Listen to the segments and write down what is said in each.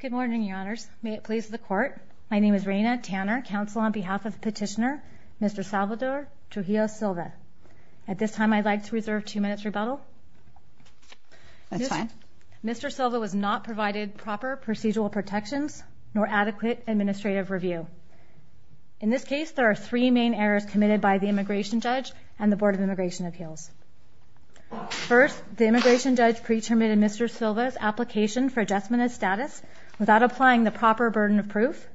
Good morning, Your Honors. May it please the Court, my name is Raina Tanner, counsel on behalf of the petitioner, Mr. Salvador Trujillo-Silva. At this time, I'd like to reserve two minutes rebuttal. That's fine. Mr. Silva was not provided proper procedural protections nor adequate administrative review. In this case, there are three main errors committed by the immigration judge and the Board of Immigration Appeals. First, the immigration judge pre-terminated Mr. Silva's application for adjustment of status without applying the proper burden of proof.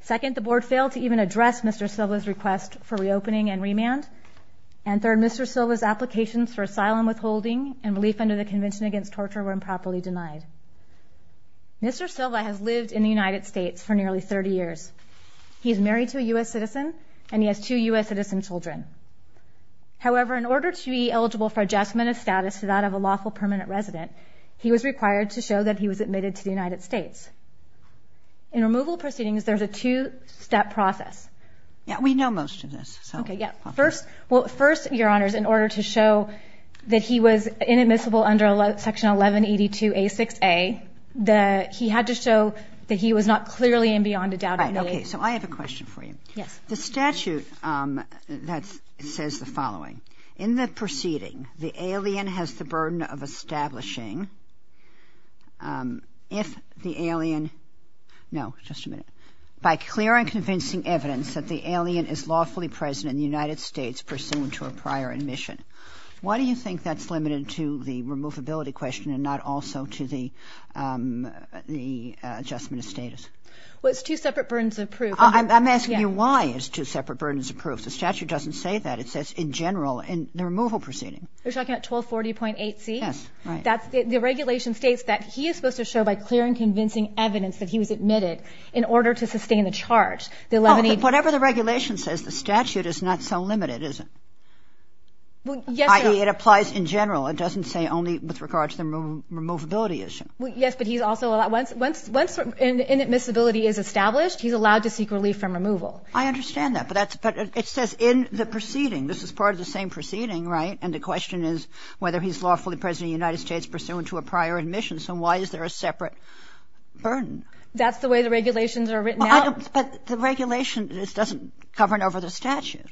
Second, the Board failed to even address Mr. Silva's request for reopening and remand. And third, Mr. Silva's applications for asylum withholding and relief under the Convention Against Torture were improperly denied. Mr. Silva has lived in the United States for nearly 30 years. He is married to a U.S. citizen, and he has two U.S. citizen children. However, in order to be eligible for adjustment of status to that of a lawful permanent resident, he was required to show that he was admitted to the United States. In removal proceedings, there's a two-step process. Yeah, we know most of this. Okay, yeah. First, Your Honors, in order to show that he was inadmissible under Section 1182A6A, he had to show that he was not clearly and beyond a doubt an A. Okay, so I have a question for you. Yes. The statute says the following. In the proceeding, the alien has the burden of establishing if the alien no, just a minute, by clear and convincing evidence that the alien is lawfully present in the United States pursuant to a prior admission. Why do you think that's limited to the removability question and not also to the adjustment of status? Well, it's two separate burdens of proof. I'm asking you why it's two separate burdens of proof. The statute doesn't say that. It says in general in the removal proceeding. You're talking about 1240.8C? Yes, right. The regulation states that he is supposed to show by clear and convincing evidence that he was admitted in order to sustain the charge. Oh, but whatever the regulation says, the statute is not so limited, is it? Well, yes, Your Honor. I.e., it applies in general. It doesn't say only with regard to the removability issue. Yes, but he's also, once inadmissibility is established, he's allowed to seek relief from removal. I understand that, but it says in the proceeding. This is part of the same proceeding, right? And the question is whether he's lawfully present in the United States pursuant to a prior admission. So why is there a separate burden? That's the way the regulations are written out. But the regulation doesn't govern over the statute.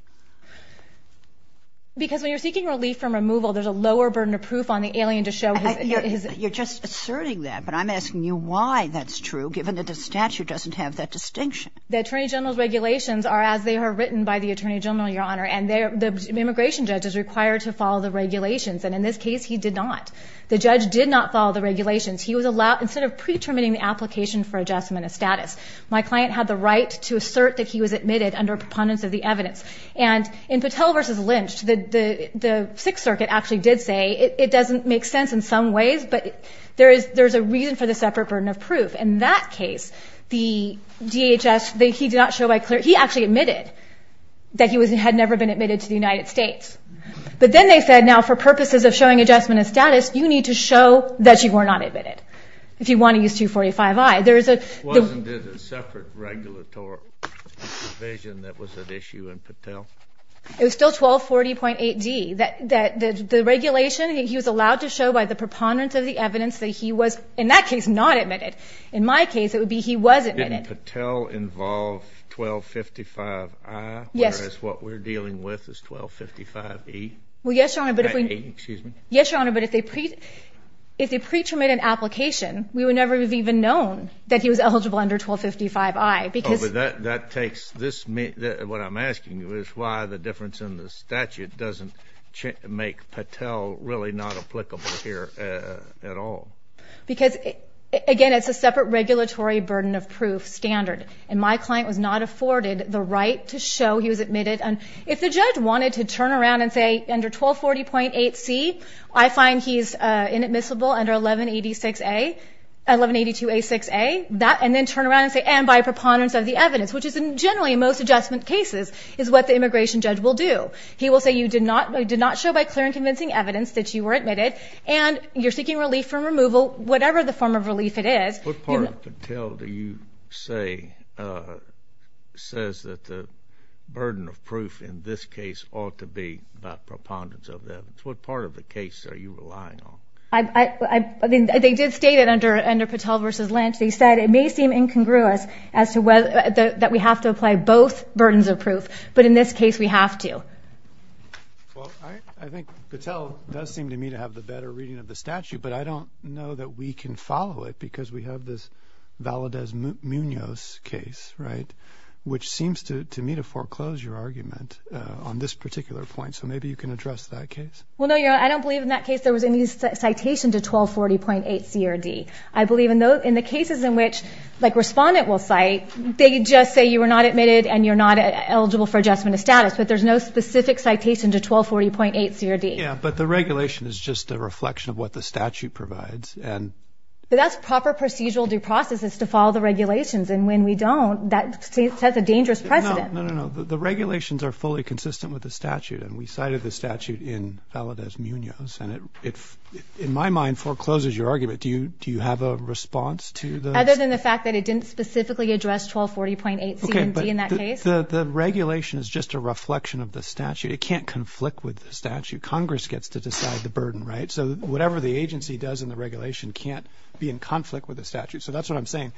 Because when you're seeking relief from removal, there's a lower burden of proof on the alien to show his ---- You're just asserting that, but I'm asking you why that's true, given that the statute doesn't have that distinction. The Attorney General's regulations are as they are written by the Attorney General, Your Honor. And the immigration judge is required to follow the regulations. And in this case, he did not. The judge did not follow the regulations. He was allowed, instead of pre-determining the application for adjustment of status, my client had the right to assert that he was admitted under preponderance of the evidence. And in Patel v. Lynch, the Sixth Circuit actually did say it doesn't make sense in some ways, but there is a reason for the separate burden of proof. In that case, the DHS, he did not show by clear ---- He actually admitted that he had never been admitted to the United States. But then they said, now, for purposes of showing adjustment of status, you need to show that you were not admitted if you want to use 245I. There is a ---- Wasn't it a separate regulatory provision that was at issue in Patel? It was still 1240.8d. The regulation, he was allowed to show by the preponderance of the evidence that he was, in that case, not admitted. In my case, it would be he was admitted. Didn't Patel involve 1255I? Yes. Whereas what we're dealing with is 1255E? Well, yes, Your Honor, but if we ---- Excuse me. Yes, Your Honor, but if they pre-terminated an application, we would never have even known that he was eligible under 1255I, because ---- Oh, but that takes this ---- what I'm asking you is why the difference in the statute doesn't make Patel really not applicable here at all. Because, again, it's a separate regulatory burden of proof standard, and my client was not afforded the right to show he was admitted. And if the judge wanted to turn around and say, under 1240.8c, I find he's inadmissible under 1182A6a, and then turn around and say, and by preponderance of the evidence, which is generally in most adjustment cases, is what the immigration judge will do. He will say you did not show by clear and convincing evidence that you were admitted, and you're seeking relief from removal, whatever the form of relief it is. What part of Patel do you say says that the burden of proof in this case ought to be by preponderance of the evidence? What part of the case are you relying on? I mean, they did state it under Patel v. Lynch. They said it may seem incongruous that we have to apply both burdens of proof, but in this case we have to. Well, I think Patel does seem to me to have the better reading of the statute, but I don't know that we can follow it because we have this Valadez-Munoz case, right, which seems to me to foreclose your argument on this particular point. So maybe you can address that case. Well, no, I don't believe in that case there was any citation to 1240.8c or d. I believe in the cases in which, like Respondent will cite, they just say you were not admitted and you're not eligible for adjustment of status, but there's no specific citation to 1240.8c or d. Yeah, but the regulation is just a reflection of what the statute provides. But that's proper procedural due process is to follow the regulations, and when we don't, that sets a dangerous precedent. No, no, no. The regulations are fully consistent with the statute, and we cited the statute in Valadez-Munoz, and it, in my mind, forecloses your argument. Do you have a response to this? Other than the fact that it didn't specifically address 1240.8c and d in that case. If the regulation is just a reflection of the statute, it can't conflict with the statute. Congress gets to decide the burden, right? So whatever the agency does in the regulation can't be in conflict with the statute. So that's what I'm saying.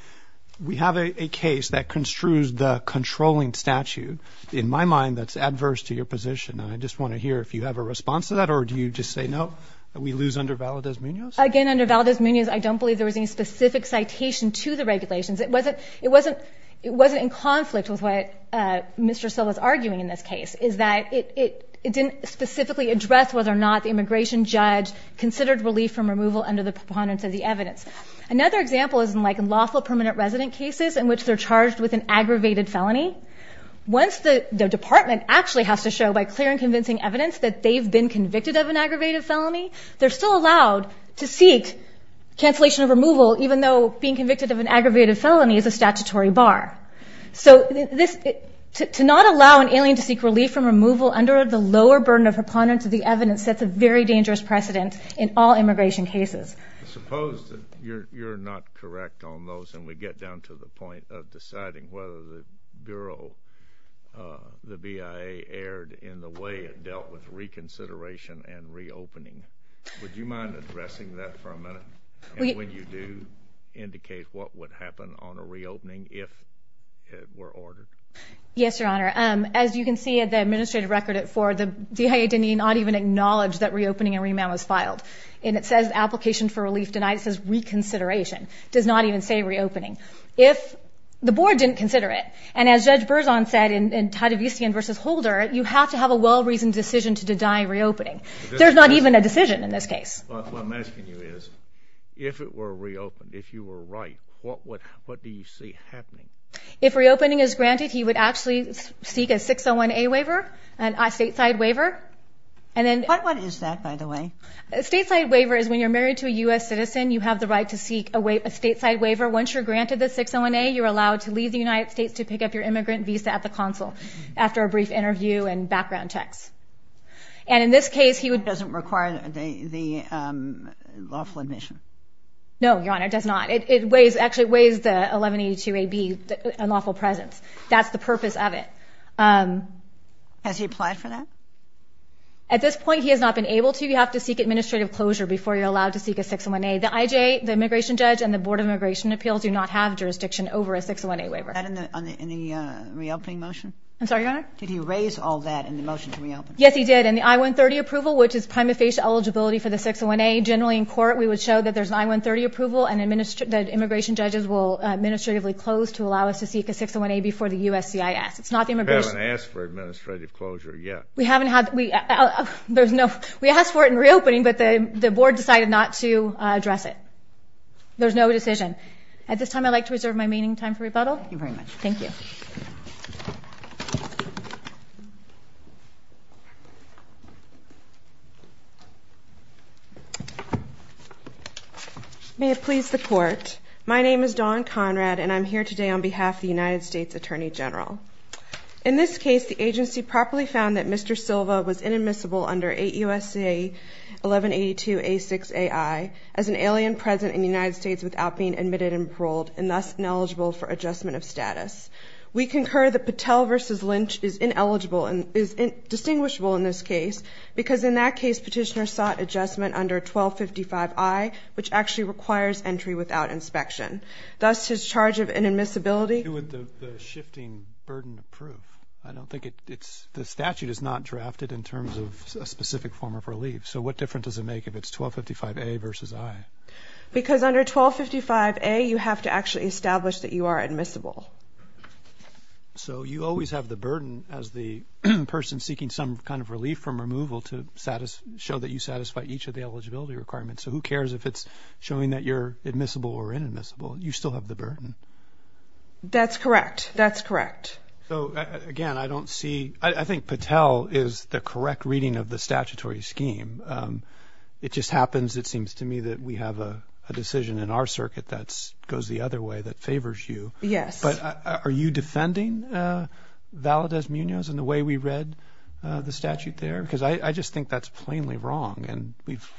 We have a case that construes the controlling statute. In my mind, that's adverse to your position, and I just want to hear if you have a response to that or do you just say no, that we lose under Valadez-Munoz? Again, under Valadez-Munoz, I don't believe there was any specific citation to the regulations. It wasn't in conflict with what Mr. So was arguing in this case, is that it didn't specifically address whether or not the immigration judge considered relief from removal under the preponderance of the evidence. Another example is in lawful permanent resident cases in which they're charged with an aggravated felony. Once the department actually has to show by clear and convincing evidence that they've been convicted of an aggravated felony, they're still allowed to seek cancellation of removal, even though being convicted of an aggravated felony is a statutory bar. So to not allow an alien to seek relief from removal under the lower burden of preponderance of the evidence sets a very dangerous precedent in all immigration cases. Suppose that you're not correct on those, and we get down to the point of deciding whether the Bureau, the BIA, erred in the way it dealt with reconsideration and reopening. Would you mind addressing that for a minute? And when you do, indicate what would happen on a reopening if it were ordered. Yes, Your Honor. As you can see at the administrative record, the BIA did not even acknowledge that reopening and remand was filed. And it says application for relief denied. It says reconsideration. It does not even say reopening. If the Board didn't consider it, and as Judge Berzon said in Tadevistian v. Holder, you have to have a well-reasoned decision to deny reopening. There's not even a decision in this case. What I'm asking you is, if it were reopened, if you were right, what do you see happening? If reopening is granted, he would actually seek a 601A waiver, a stateside waiver. What is that, by the way? A stateside waiver is when you're married to a U.S. citizen, you have the right to seek a stateside waiver. Once you're granted the 601A, you're allowed to leave the United States to pick up your immigrant visa at the consul after a brief interview and background checks. And in this case, he would – It doesn't require the lawful admission. No, Your Honor, it does not. It weighs – actually, it weighs the 1182AB, unlawful presence. That's the purpose of it. Has he applied for that? At this point, he has not been able to. You have to seek administrative closure before you're allowed to seek a 601A. The IJA, the immigration judge, and the Board of Immigration Appeals do not have jurisdiction over a 601A waiver. Is that in the reopening motion? I'm sorry, Your Honor? Did he raise all that in the motion to reopen? Yes, he did. In the I-130 approval, which is prima facie eligibility for the 601A, generally in court we would show that there's an I-130 approval and that immigration judges will administratively close to allow us to seek a 601A before the USCIS. It's not the immigration – We haven't asked for administrative closure yet. We haven't had – there's no – we asked for it in reopening, but the board decided not to address it. There's no decision. At this time, I'd like to reserve my meeting time for rebuttal. Thank you very much. Thank you. Thank you. May it please the Court, my name is Dawn Conrad, and I'm here today on behalf of the United States Attorney General. In this case, the agency properly found that Mr. Silva was inadmissible under 8 U.S.C.A. 1182A6AI as an alien present in the United States without being admitted and paroled, and thus ineligible for adjustment of status. We concur that Patel v. Lynch is ineligible and is distinguishable in this case because in that case petitioner sought adjustment under 1255I, which actually requires entry without inspection. Thus, his charge of inadmissibility – Who would the shifting burden approve? I don't think it's – the statute is not drafted in terms of a specific form of relief. So what difference does it make if it's 1255A v. I? Because under 1255A you have to actually establish that you are admissible. So you always have the burden as the person seeking some kind of relief from removal to show that you satisfy each of the eligibility requirements. So who cares if it's showing that you're admissible or inadmissible? You still have the burden. That's correct. That's correct. So, again, I don't see – I think Patel is the correct reading of the statutory scheme. It just happens, it seems to me, that we have a decision in our circuit that goes the other way that favors you. Yes. But are you defending Valadez-Munoz in the way we read the statute there? Because I just think that's plainly wrong, and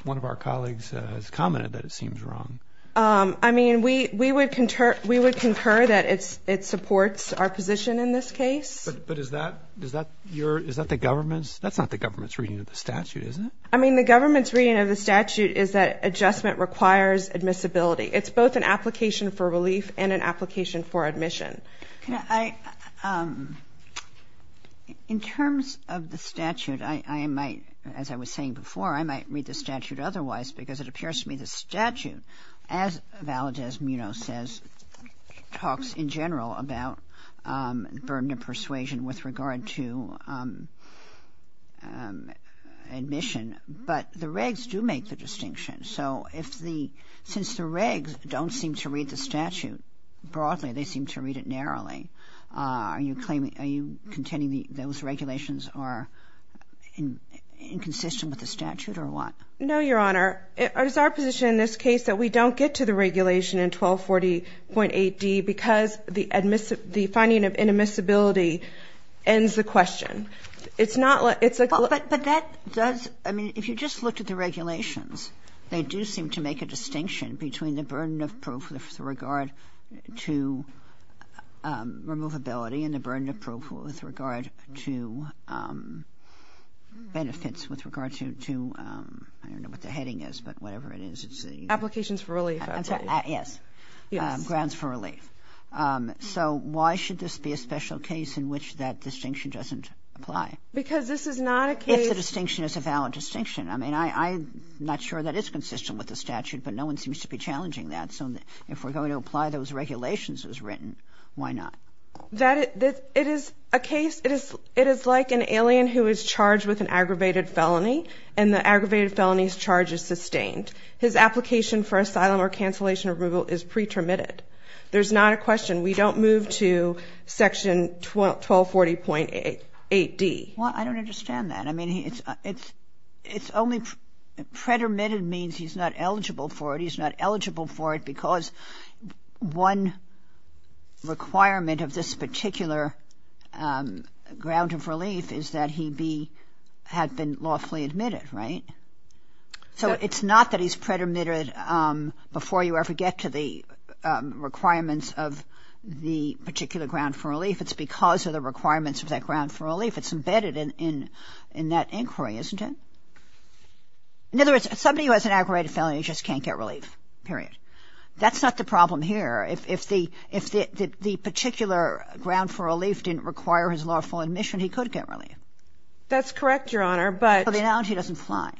one of our colleagues has commented that it seems wrong. I mean, we would concur that it supports our position in this case. But is that the government's – that's not the government's reading of the statute, is it? I mean, the government's reading of the statute is that adjustment requires admissibility. It's both an application for relief and an application for admission. Can I – in terms of the statute, I might – as I was saying before, I might read the statute otherwise because it appears to me the statute, as Valadez-Munoz says, talks in general about burden of persuasion with regard to admission. But the regs do make the distinction. So if the – since the regs don't seem to read the statute broadly, they seem to read it narrowly. Are you claiming – are you contending those regulations are inconsistent with the statute or what? No, Your Honor. It is our position in this case that we don't get to the regulation in 1240.8d because the finding of inadmissibility ends the question. It's not – it's a – But that does – I mean, if you just looked at the regulations, they do seem to make a distinction between the burden of proof with regard to removability and the burden of proof with regard to benefits with regard to – I don't know what the heading is, but whatever it is, it's the – Applications for relief, I believe. Yes. Yes. Grounds for relief. So why should this be a special case in which that distinction doesn't apply? Because this is not a case – If the distinction is a valid distinction. I mean, I'm not sure that it's consistent with the statute, but no one seems to be challenging that. So if we're going to apply those regulations as written, why not? It is a case – it is like an alien who is charged with an aggravated felony, and the aggravated felony's charge is sustained. His application for asylum or cancellation removal is pretermitted. There's not a question. We don't move to Section 1240.8d. Well, I don't understand that. I mean, it's only – pretermitted means he's not eligible for it. Because one requirement of this particular ground of relief is that he be – had been lawfully admitted, right? So it's not that he's pretermitted before you ever get to the requirements of the particular ground for relief. It's because of the requirements of that ground for relief. It's embedded in that inquiry, isn't it? In other words, somebody who has an aggravated felony just can't get relief, period. That's not the problem here. If the particular ground for relief didn't require his lawful admission, he could get relief. That's correct, Your Honor, but – But the analogy doesn't apply.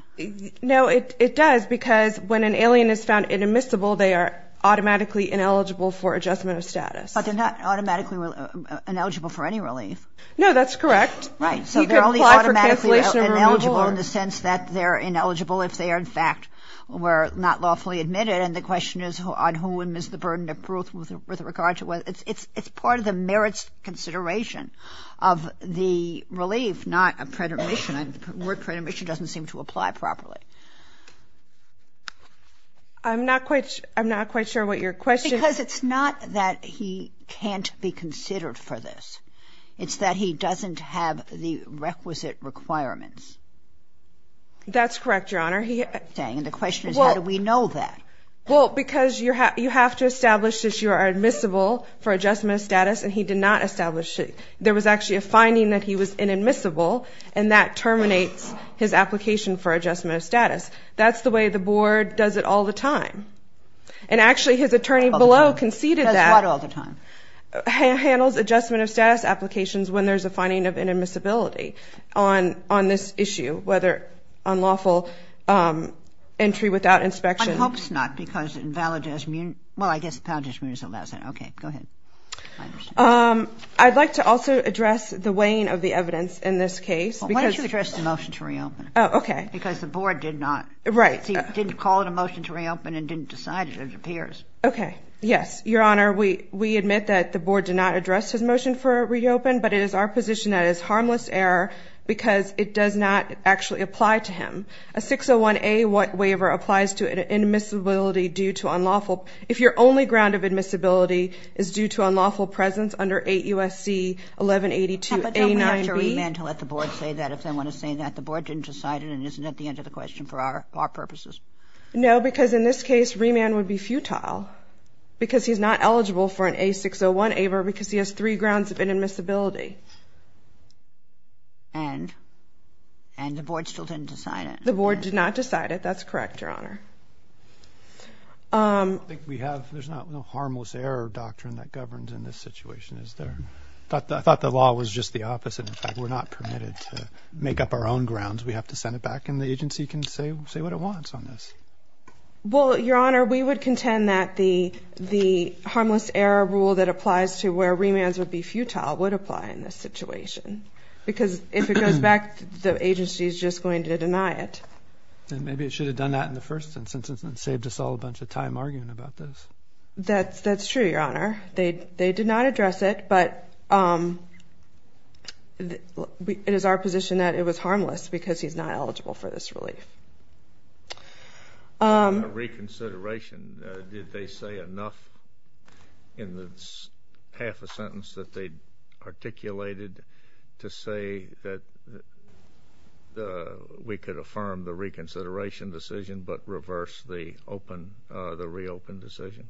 No, it does, because when an alien is found inadmissible, they are automatically ineligible for adjustment of status. But they're not automatically ineligible for any relief. No, that's correct. Right, so they're only automatically ineligible in the sense that they're ineligible if they are, in fact, were not lawfully admitted. And the question is on whom is the burden of proof with regard to – it's part of the merits consideration of the relief, not a pretermission. The word pretermission doesn't seem to apply properly. I'm not quite sure what your question – Because it's not that he can't be considered for this. It's that he doesn't have the requisite requirements. That's correct, Your Honor. And the question is how do we know that? Well, because you have to establish that you are admissible for adjustment of status, and he did not establish it. There was actually a finding that he was inadmissible, and that terminates his application for adjustment of status. That's the way the board does it all the time. And actually, his attorney below conceded that – Does what all the time? Handles adjustment of status applications when there's a finding of inadmissibility on this issue, whether unlawful entry without inspection. I hope it's not because it invalidates – well, I guess it invalidates – okay, go ahead. I'd like to also address the weighing of the evidence in this case. Why don't you address the motion to reopen? Oh, okay. Because the board did not – Right. Didn't call it a motion to reopen and didn't decide it, it appears. Okay. Yes, Your Honor, we admit that the board did not address his motion for reopen, but it is our position that it is harmless error because it does not actually apply to him. A 601A waiver applies to inadmissibility due to unlawful – if your only ground of admissibility is due to unlawful presence under 8 U.S.C. 1182-A9B – But don't we have to remand to let the board say that if they want to say that? The board didn't decide it, and it isn't at the end of the question for our purposes. No, because in this case, remand would be futile because he's not eligible for an A601A waiver because he has three grounds of inadmissibility. And the board still didn't decide it? The board did not decide it. That's correct, Your Honor. I think we have – there's not a harmless error doctrine that governs in this situation, is there? I thought the law was just the opposite. In fact, we're not permitted to make up our own grounds. We have to send it back, and the agency can say what it wants on this. Well, Your Honor, we would contend that the harmless error rule that applies to where remands would be futile would apply in this situation because if it goes back, the agency is just going to deny it. Then maybe it should have done that in the first instance and saved us all a bunch of time arguing about this. That's true, Your Honor. They did not address it, but it is our position that it was harmless because he's not eligible for this relief. On reconsideration, did they say enough in the half a sentence that they articulated to say that we could affirm the reconsideration decision but reverse the reopen decision?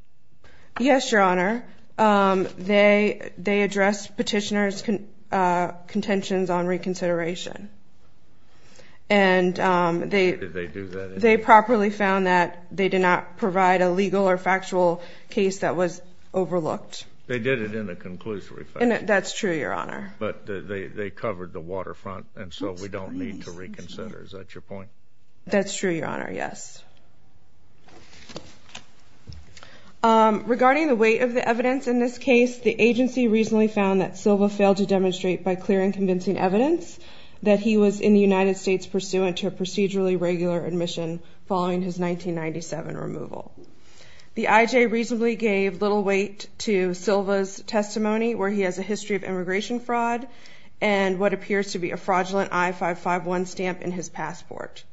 Yes, Your Honor. They addressed petitioner's contentions on reconsideration. Did they do that? They properly found that they did not provide a legal or factual case that was overlooked. They did it in a conclusory fashion. That's true, Your Honor. But they covered the waterfront, and so we don't need to reconsider. Is that your point? That's true, Your Honor, yes. Regarding the weight of the evidence in this case, the agency reasonably found that Silva failed to demonstrate by clear and convincing evidence that he was in the United States pursuant to a procedurally regular admission following his 1997 removal. The IJ reasonably gave little weight to Silva's testimony where he has a history of immigration fraud and what appears to be a fraudulent I-551 stamp in his passport.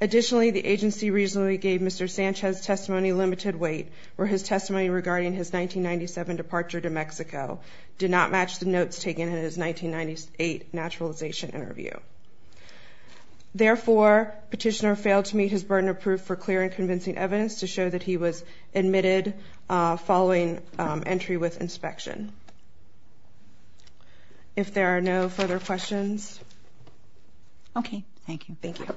Additionally, the agency reasonably gave Mr. Sanchez's testimony limited weight where his testimony regarding his 1997 departure to Mexico did not match the notes taken in his 1998 naturalization interview. Therefore, petitioner failed to meet his burden of proof for clear and convincing evidence to show that he was admitted following entry with inspection. If there are no further questions. Okay, thank you. Thank you.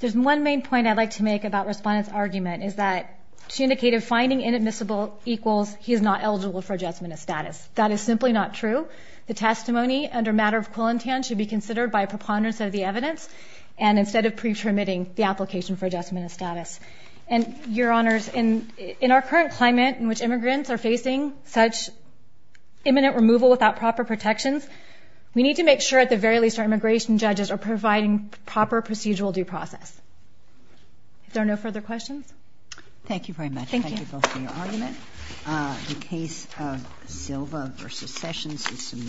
There's one main point I'd like to make about Respondent's argument is that she indicated finding inadmissible equals he is not eligible for adjustment of status. That is simply not true. The testimony under matter of quillentan should be considered by preponderance of the evidence and instead of pre-permitting the application for adjustment of status. And your honors, in our current climate in which immigrants are facing such imminent removal without proper protections, we need to make sure at the very least our immigration judges are providing proper procedural due process. If there are no further questions. Thank you very much. Thank you both for your argument. The case of Silva versus Sessions is submitted.